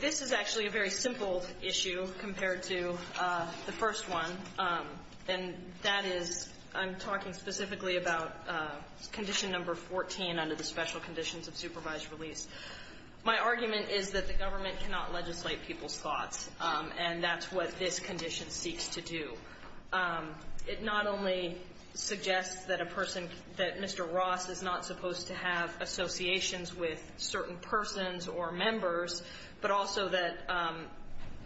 This is actually a very simple issue compared to the first one, and that is I'm talking specifically about condition number 14 under the special conditions of supervised release. My argument is that the government cannot legislate people's thoughts, and that's what this condition seeks to do. It not only suggests that Mr. Ross is not supposed to have associations with certain persons or members, but also that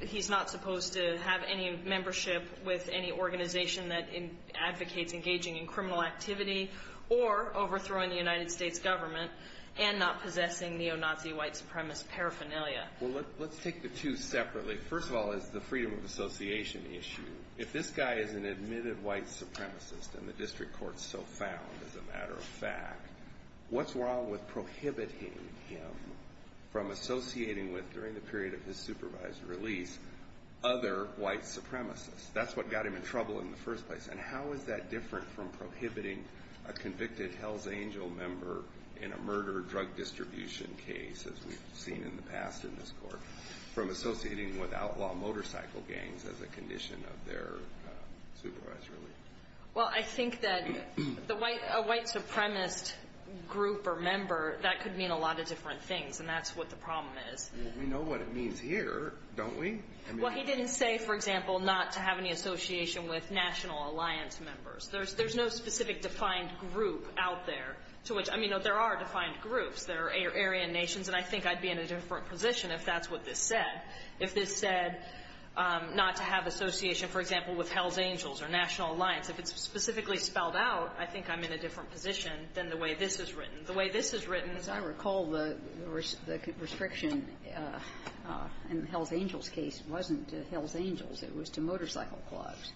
he's not supposed to have any membership with any organization that advocates engaging in criminal activity or overthrowing the United States government and not possessing neo-Nazi white supremacist paraphernalia. Well, let's take the two separately. First of all, is the freedom of association issue. If this guy is an admitted white supremacist and the district court so found, as a matter of fact, what's wrong with prohibiting him from associating with, during the period of his supervised release, other white supremacists? That's what got him in trouble in the first place. And how is that different from prohibiting a convicted Hell's Angel member in a murder drug distribution case, as we've seen in the past in this court, from associating with outlaw motorcycle gangs as a condition of their supervised release? Well, I think that a white supremacist group or member, that could mean a lot of different things, and that's what the problem is. Well, we know what it means here, don't we? Well, he didn't say, for example, not to have any association with national alliance members. There's no specific defined group out there to which – I mean, there are defined groups. There are Aryan nations, and I think I'd be in a different position if that's what this said. If this said not to have association, for example, with Hell's Angels or National Alliance, if it's specifically spelled out, I think I'm in a different position than the way this is written. The way this is written is I recall the restriction in Hell's Angels' case wasn't to Hell's Angels. It was to motorcycle clubs.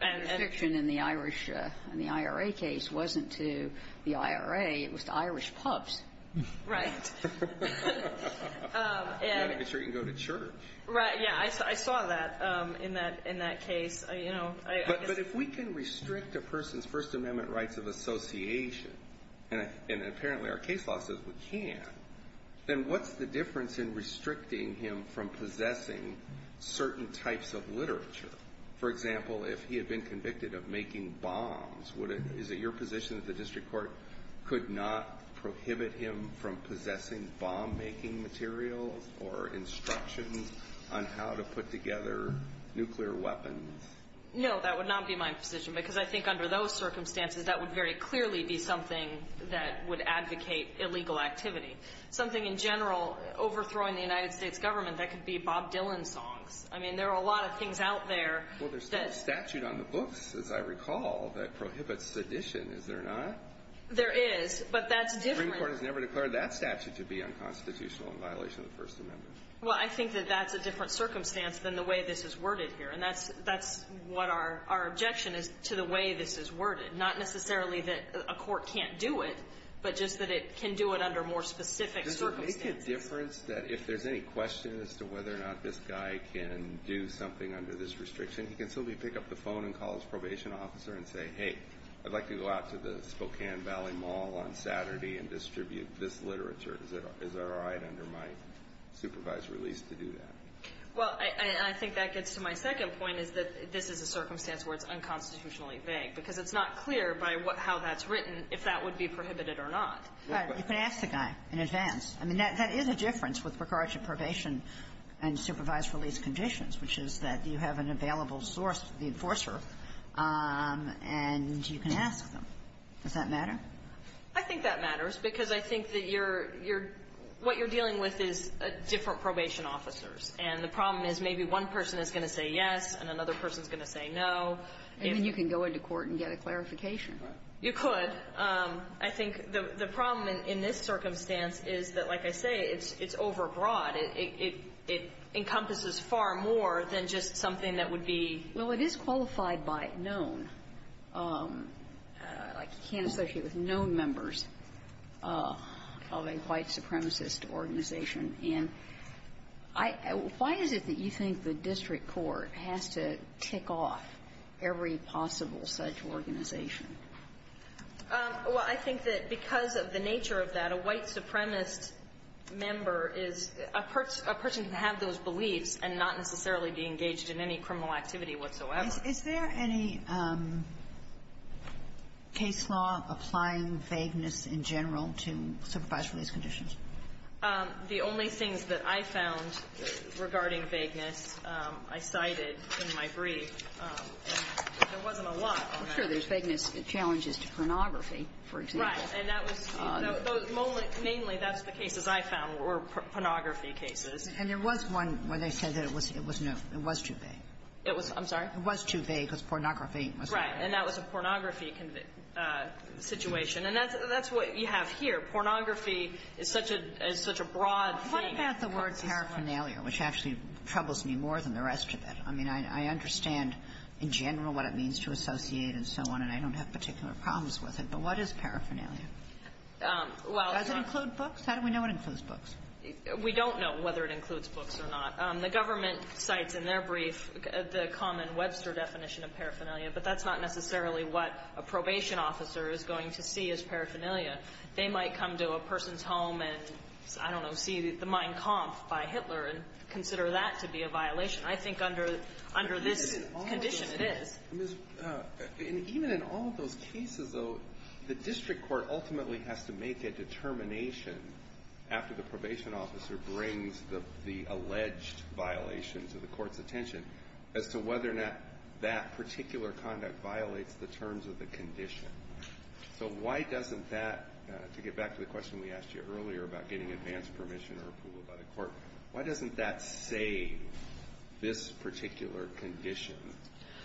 The restriction in the Irish – in the IRA case wasn't to the IRA. It was to Irish pubs. Right. You've got to make sure you can go to church. Right. Yeah, I saw that in that case. But if we can restrict a person's First Amendment rights of association, and apparently our case law says we can, then what's the difference in restricting him from possessing certain types of literature? For example, if he had been convicted of making bombs, is it your position that the district court could not prohibit him from possessing bomb-making materials or instructions on how to put together nuclear weapons? No, that would not be my position, because I think under those circumstances, that would very clearly be something that would advocate illegal activity. Something in general, overthrowing the United States government, that could be Bob Dylan songs. I mean, there are a lot of things out there that – Well, there's still a statute on the books, as I recall, that prohibits sedition. Is there not? There is, but that's different – The Supreme Court has never declared that statute to be unconstitutional in violation of the First Amendment. Well, I think that that's a different circumstance than the way this is worded here. And that's what our objection is to the way this is worded. Not necessarily that a court can't do it, but just that it can do it under more specific circumstances. Is there a difference that if there's any question as to whether or not this guy can do something under this restriction, he can simply pick up the phone and call his probation officer and say, hey, I'd like to go out to the Spokane Valley Mall on Saturday and distribute this literature. Is it all right under my supervised release to do that? Well, I think that gets to my second point, is that this is a circumstance where it's unconstitutionally vague, because it's not clear by how that's written if that would be prohibited or not. All right. You can ask the guy in advance. I mean, that is a difference with regard to probation and supervised release conditions, which is that you have an available source, the enforcer, and you can ask them. Does that matter? I think that matters, because I think that you're – what you're dealing with is different probation officers. And the problem is maybe one person is going to say yes, and another person is going to say no. Maybe you can go into court and get a clarification. You could. But I think the problem in this circumstance is that, like I say, it's overbroad. It encompasses far more than just something that would be – Well, it is qualified by known. Like, you can't associate with known members of a white supremacist organization. And I – why is it that you think the district court has to tick off every possible such organization? Well, I think that because of the nature of that, a white supremacist member is a person who can have those beliefs and not necessarily be engaged in any criminal activity whatsoever. Is there any case law applying vagueness in general to supervised release conditions? The only things that I found regarding vagueness, I cited in my brief, there wasn't a lot on that. There's vagueness challenges to pornography, for example. Right. And that was – mainly, that's the cases I found were pornography cases. And there was one where they said that it was too vague. It was – I'm sorry? It was too vague because pornography was too vague. Right. And that was a pornography situation. And that's what you have here. Pornography is such a broad thing. What about the word paraphernalia, which actually troubles me more than the rest of it? I mean, I understand in general what it means to associate and so on, and I don't have particular problems with it. But what is paraphernalia? Does it include books? How do we know it includes books? We don't know whether it includes books or not. The government cites in their brief the common Webster definition of paraphernalia, but that's not necessarily what a probation officer is going to see as paraphernalia. They might come to a person's home and, I don't know, see the Mein Kampf by Hitler and consider that to be a violation. I think under this condition it is. Even in all of those cases, though, the district court ultimately has to make a determination after the probation officer brings the alleged violation to the court's attention as to whether or not that particular conduct violates the terms of the condition. So why doesn't that, to get back to the question we asked you earlier about getting approval by the court, why doesn't that save this particular condition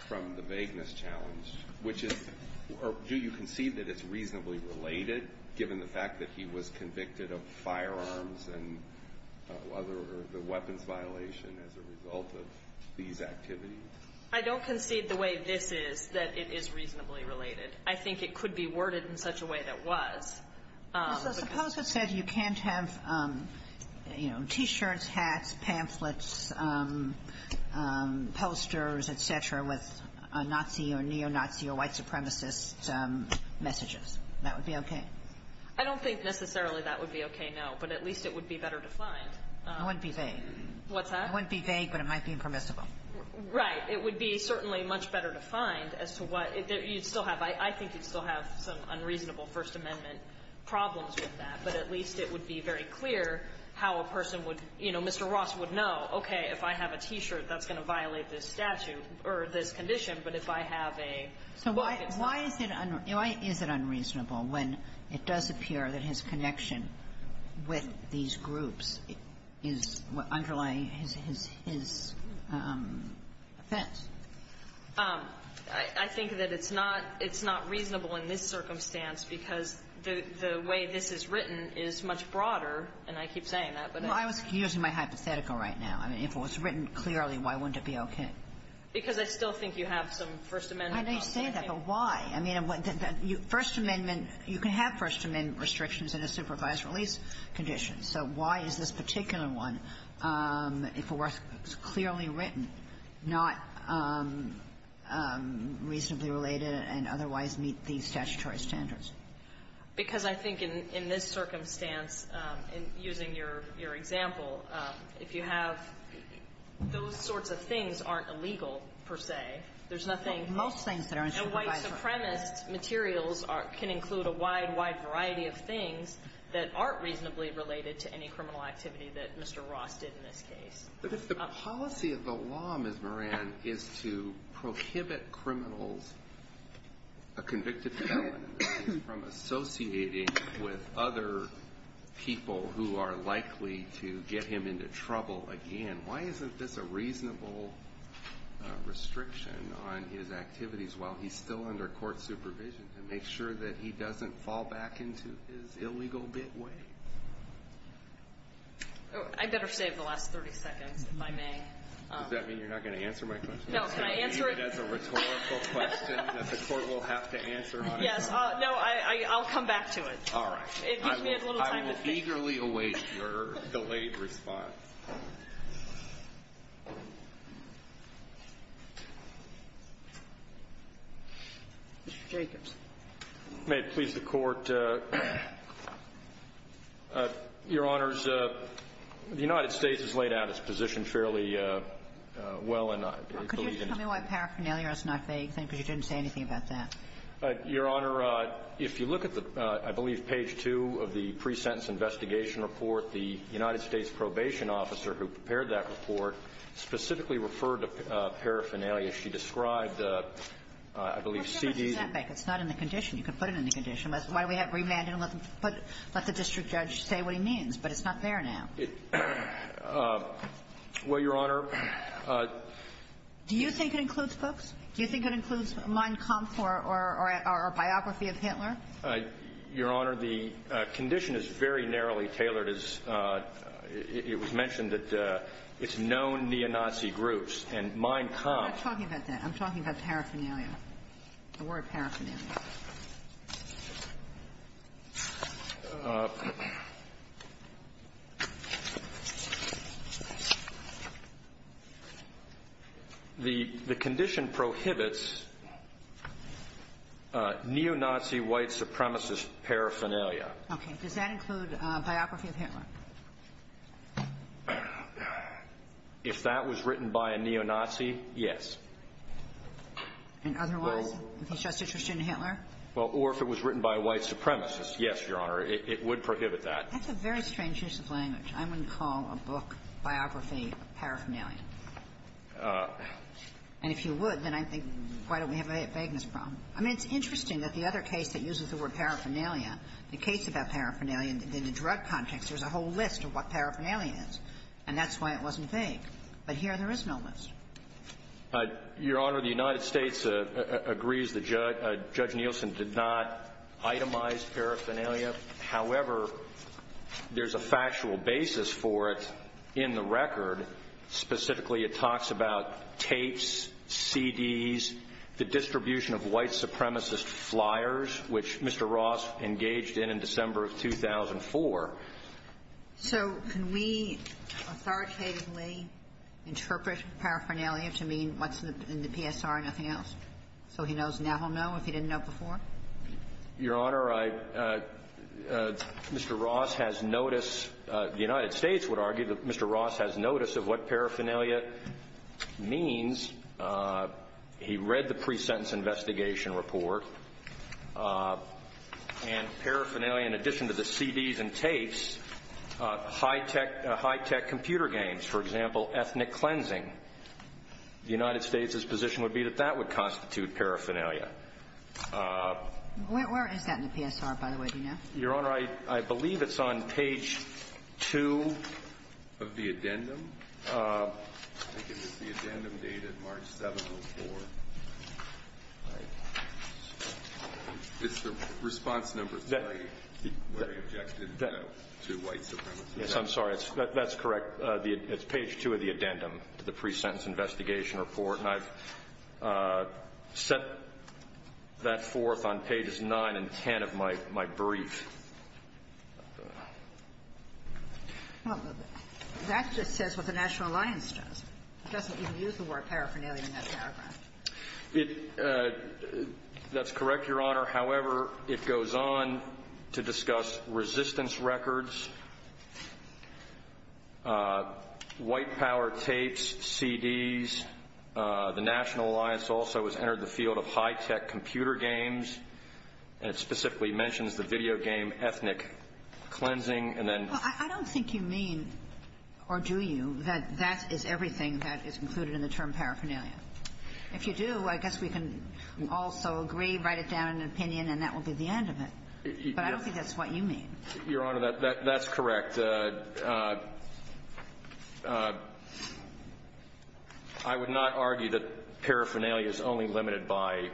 from the vagueness challenge, which is, do you concede that it's reasonably related, given the fact that he was convicted of firearms and other weapons violation as a result of these activities? I don't concede the way this is, that it is reasonably related. I think it could be worded in such a way that was. But suppose it said you can't have, you know, T-shirts, hats, pamphlets, posters, et cetera, with Nazi or neo-Nazi or white supremacist messages. That would be okay? I don't think necessarily that would be okay, no. But at least it would be better defined. It wouldn't be vague. What's that? It wouldn't be vague, but it might be impermissible. Right. It would be certainly much better defined as to what. You'd still have, I think you'd still have some unreasonable First Amendment problems with that, but at least it would be very clear how a person would, you know, Mr. Ross would know, okay, if I have a T-shirt, that's going to violate this statute or this condition, but if I have a. So why is it unreasonable when it does appear that his connection with these groups is underlying his offense? I think that it's not reasonable in this circumstance because the way this is written is much broader, and I keep saying that. Well, I was using my hypothetical right now. I mean, if it was written clearly, why wouldn't it be okay? Because I still think you have some First Amendment problems. I understand that, but why? I mean, First Amendment, you can have First Amendment restrictions in a supervised release condition. So why is this particular one, if it was clearly written, not reasonably related and otherwise meet the statutory standards? Because I think in this circumstance, using your example, if you have those sorts of things aren't illegal, per se, there's nothing. Well, most things that aren't supervised are. And white supremacist materials can include a wide, wide variety of things that aren't reasonably related to any criminal activity that Mr. Ross did in this case. But if the policy of the law, Ms. Moran, is to prohibit criminals, a convicted felon in this case, from associating with other people who are likely to get him into trouble again, why isn't this a reasonable restriction on his activities while he's still under court supervision to make sure that he doesn't fall back into his illegal bit way? I'd better save the last 30 seconds, if I may. Does that mean you're not going to answer my question? No, can I answer it? I'm going to leave it as a rhetorical question that the court will have to answer. Yes. No, I'll come back to it. All right. It gives me a little time to think. I will eagerly await your delayed response. Mr. Jacobs. May it please the Court, Your Honors, the United States has laid out its position fairly well, and I believe that the ---- Could you just tell me why paraphernalia is not a vague thing? Because you didn't say anything about that. Your Honor, if you look at the, I believe, page 2 of the pre-sentence investigation report, the United States probation officer who prepared that report specifically referred to paraphernalia. She described, I believe, C.D. ---- It's not in the condition. You can put it in the condition. Why do we have remand and let the district judge say what he means? But it's not there now. Well, Your Honor ---- Do you think it includes books? Do you think it includes Mein Kampf or a biography of Hitler? Your Honor, the condition is very narrowly tailored. It was mentioned that it's known neo-Nazi groups, and Mein Kampf ---- I'm not talking about that. I'm talking about paraphernalia. The word paraphernalia. The condition prohibits neo-Nazi white supremacist paraphernalia. Okay. Does that include a biography of Hitler? If that was written by a neo-Nazi, yes. And otherwise? If he's just interested in Hitler? Well, or if it was written by a white supremacist, yes, Your Honor. It would prohibit that. That's a very strange use of language. I wouldn't call a book, biography, paraphernalia. And if you would, then I think, why don't we have a vagueness problem? I mean, it's interesting that the other case that uses the word paraphernalia, the case about paraphernalia in the drug context, there's a whole list of what paraphernalia is, and that's why it wasn't vague. But here there is no list. Your Honor, the United States agrees that Judge Nielsen did not itemize paraphernalia. However, there's a factual basis for it in the record. Specifically, it talks about tapes, CDs, the distribution of white supremacist flyers, which Mr. Ross engaged in in December of 2004. So can we authoritatively interpret paraphernalia to mean what's in the PSR and nothing else? So he knows now he'll know if he didn't know before? Your Honor, I – Mr. Ross has notice – the United States would argue that Mr. Ross has notice of what paraphernalia means. He read the pre-sentence investigation report, and paraphernalia, in addition to the CDs and tapes, high-tech – high-tech computer games, for example, ethnic cleansing. The United States' position would be that that would constitute paraphernalia. Where is that in the PSR, by the way, do you know? Your Honor, I believe it's on page 2 of the addendum. I think it's the addendum to the pre-sentence investigation report, and I've set that forth on pages 9 and 10 of my brief. Well, that just says what the National Alliance does. It doesn't even use the word paraphernalia in that paragraph. It – that's correct, Your Honor. However, it goes on to discuss resistance records, white power tapes, CDs. The National Alliance also has entered the field of high-tech computer games, and it specifically mentions the video game ethnic cleansing, and then – Well, I don't think you mean, or do you, that that is everything that is included in the term paraphernalia? If you do, I guess we can also agree, write it down in an opinion, and that will be the end of it. But I don't think that's what you mean. Your Honor, that's correct. I would not argue that paraphernalia is only limited by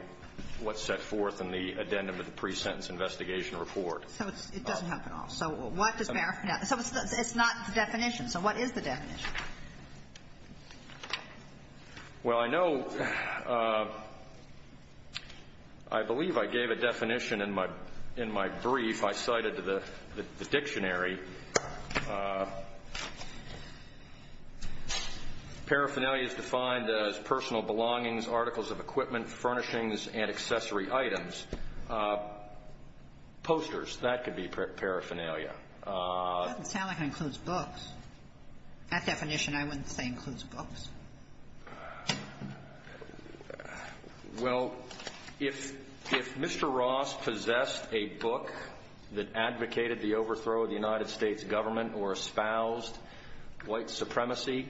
what's set forth in the addendum to the pre-sentence investigation report. So it doesn't help at all. So what does paraphernalia – so it's not the definition. So what is the definition? Well, I know – I believe I gave a definition in my – in my brief. I cited the dictionary. Paraphernalia is defined as personal belongings, articles of equipment, furnishings, and accessory items. Posters, that could be paraphernalia. It doesn't sound like it includes books. That definition, I wouldn't say includes books. Well, if – if Mr. Ross possessed a book that advocated the overthrow of the United States government or espoused white supremacy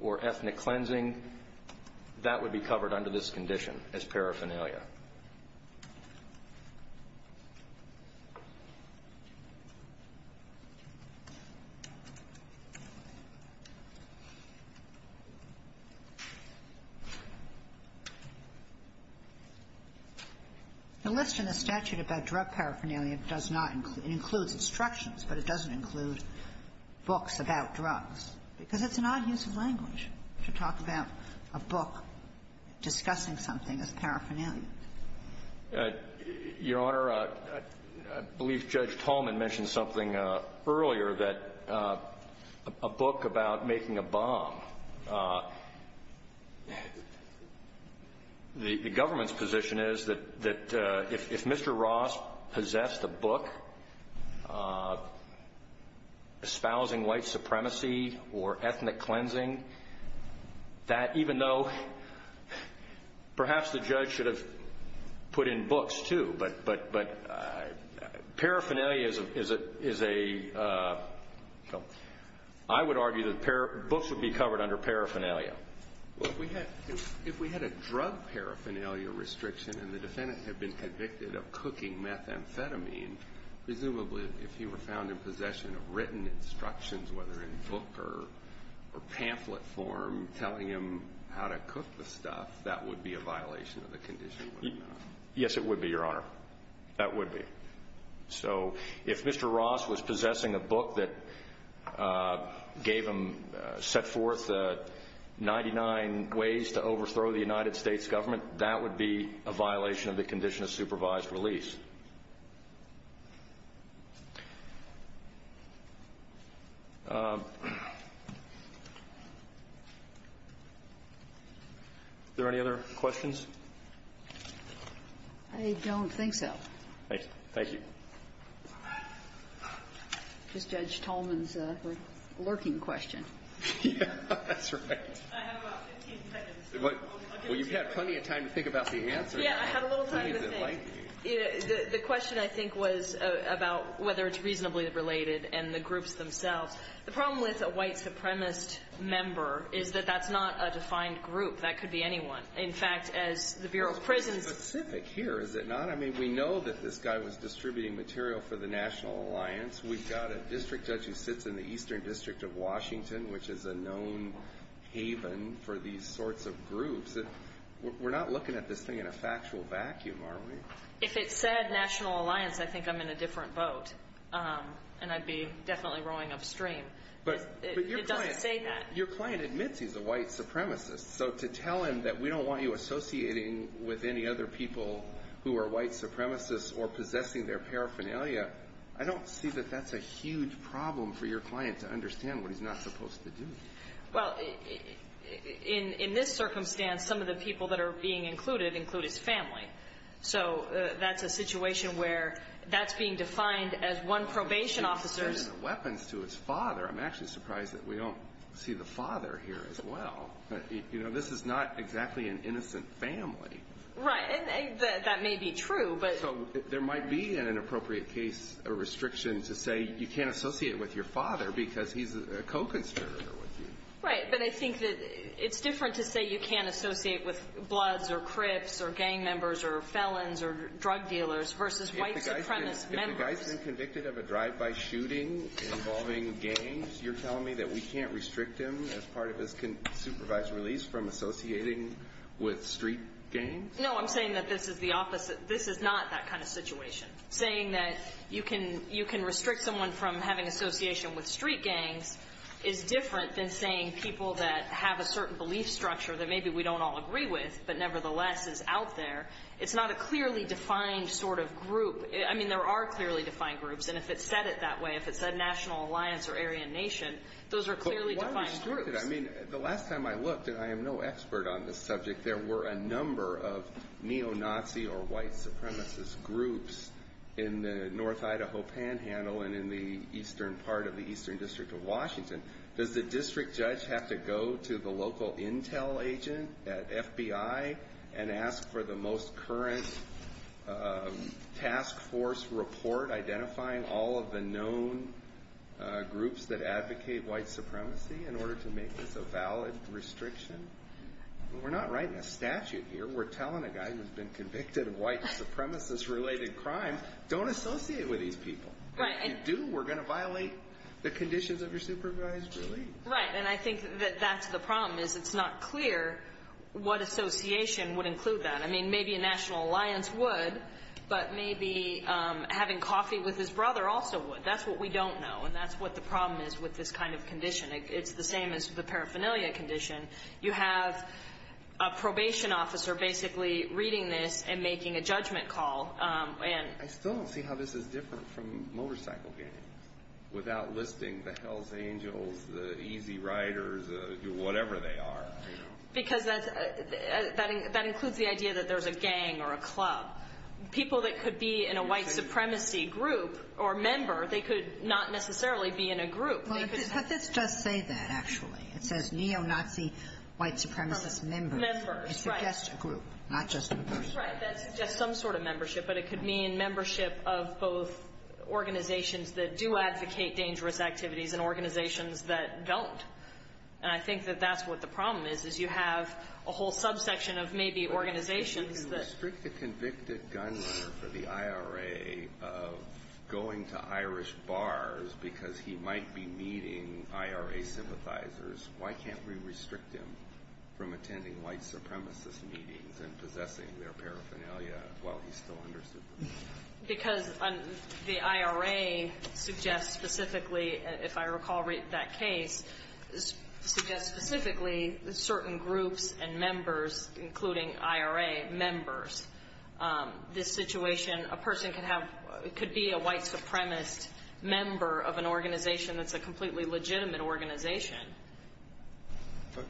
or ethnic cleansing, that would be covered under this condition as paraphernalia. The list in the statute about drug paraphernalia does not – it includes instructions, but it doesn't include books about drugs, because it's an odd use of language to talk about a book discussing something as paraphernalia. Your Honor, I believe Judge Tolman mentioned something earlier that – a book about making a bomb. The government's position is that – that if Mr. Ross possessed a book espousing white supremacy or ethnic cleansing, that even though – perhaps the judge should have put in books, too, but paraphernalia is a – I would argue that books would be covered under paraphernalia. Well, if we had a drug paraphernalia restriction and the defendant had been convicted of cooking methamphetamine, presumably if he were found in possession of written instructions, whether in book or pamphlet form, telling him how to cook the stuff, that would be a violation of the condition, wouldn't it? Yes, it would be, Your Honor. That would be. So if Mr. Ross was possessing a book that gave him – set forth 99 ways to overthrow the United States government, that would be a violation of the condition of supervised release. Is there any other questions? I don't think so. Thank you. Just Judge Tolman's lurking question. Yes, that's right. I have about 15 seconds. Well, you've had plenty of time to think about the answer. Yes, I had a little time to think. The question, I think, was about whether it's reasonably related and the groups themselves. The problem with a white supremacist member is that that's not a defined group. That could be anyone. In fact, as the Bureau of Prisons – It's pretty specific here, is it not? I mean, we know that this guy was distributing material for the National Alliance. We've got a district judge who sits in the Eastern District of Washington, which is a known haven for these sorts of groups. We're not looking at this thing in a factual vacuum, are we? If it said National Alliance, I think I'm in a different boat. And I'd be definitely rowing upstream. But your client admits he's a white supremacist. So to tell him that we don't want you associating with any other people who are white supremacists or possessing their paraphernalia, I don't see that that's a huge problem for your client to understand what he's not supposed to do. Well, in this circumstance, some of the people that are being included include his family. So that's a situation where that's being defined as one probation officer's – He's transferring the weapons to his father. I'm actually surprised that we don't see the father here as well. You know, this is not exactly an innocent family. Right, and that may be true, but – So there might be, in an appropriate case, a restriction to say you can't associate with your father because he's a co-conspirator with you. Right, but I think that it's different to say you can't associate with bloods or crips or gang members or felons or drug dealers versus white supremacist members. If the guy's been convicted of a drive-by shooting involving gangs, you're telling me that we can't restrict him as part of his supervised release from associating with street gangs? No, I'm saying that this is the opposite. This is not that kind of situation. Saying that you can restrict someone from having association with street gangs is different than saying people that have a certain belief structure that maybe we don't all agree with but nevertheless is out there. It's not a clearly defined sort of group. I mean, there are clearly defined groups, and if it's said it that way, if it's said National Alliance or Aryan Nation, those are clearly defined groups. I mean, the last time I looked, and I am no expert on this subject, but if there were a number of neo-Nazi or white supremacist groups in the North Idaho Panhandle and in the eastern part of the eastern district of Washington, does the district judge have to go to the local intel agent at FBI and ask for the most current task force report identifying all of the known groups that advocate white supremacy in order to make this a valid restriction? We're not writing a statute here. We're telling a guy who's been convicted of white supremacist related crimes don't associate with these people. If you do, we're going to violate the conditions of your supervised release. Right, and I think that that's the problem, is it's not clear what association would include that. I mean, maybe a National Alliance would, but maybe having coffee with his brother also would. That's what we don't know, and that's what the problem is with this kind of condition. It's the same as the paraphernalia condition. You have a probation officer basically reading this and making a judgment call. I still don't see how this is different from motorcycle games without listing the Hells Angels, the Easy Riders, whatever they are. Because that includes the idea that there's a gang or a club. People that could be in a white supremacy group or member, they could not necessarily be in a group. But this does say that, actually. It says neo-Nazi white supremacist members. Members, right. It suggests a group, not just a group. That's right. That suggests some sort of membership, but it could mean membership of both organizations that do advocate dangerous activities and organizations that don't. And I think that that's what the problem is, is you have a whole subsection of maybe organizations that... But you can restrict the convicted gunman for the IRA of going to Irish bars because he might be meeting IRA sympathizers. Why can't we restrict him from attending white supremacist meetings and possessing their paraphernalia while he's still under sympathizers? Because the IRA suggests specifically, if I recall that case, suggests specifically certain groups and members, including IRA members. This situation, a person could be a white supremacist member of an organization that's a completely legitimate organization. But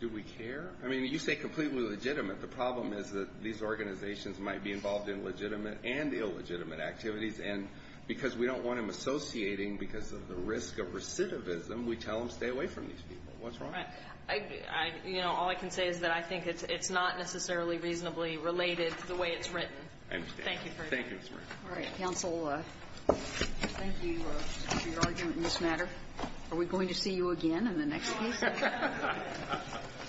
do we care? I mean, you say completely legitimate. The problem is that these organizations might be involved in legitimate and illegitimate activities, and because we don't want them associating because of the risk of recidivism, we tell them, stay away from these people. What's wrong? You know, all I can say is that I think it's not necessarily reasonably related to the way it's written. I understand. Thank you. All right. Counsel, thank you for your argument in this matter. Are we going to see you again in the next case? No.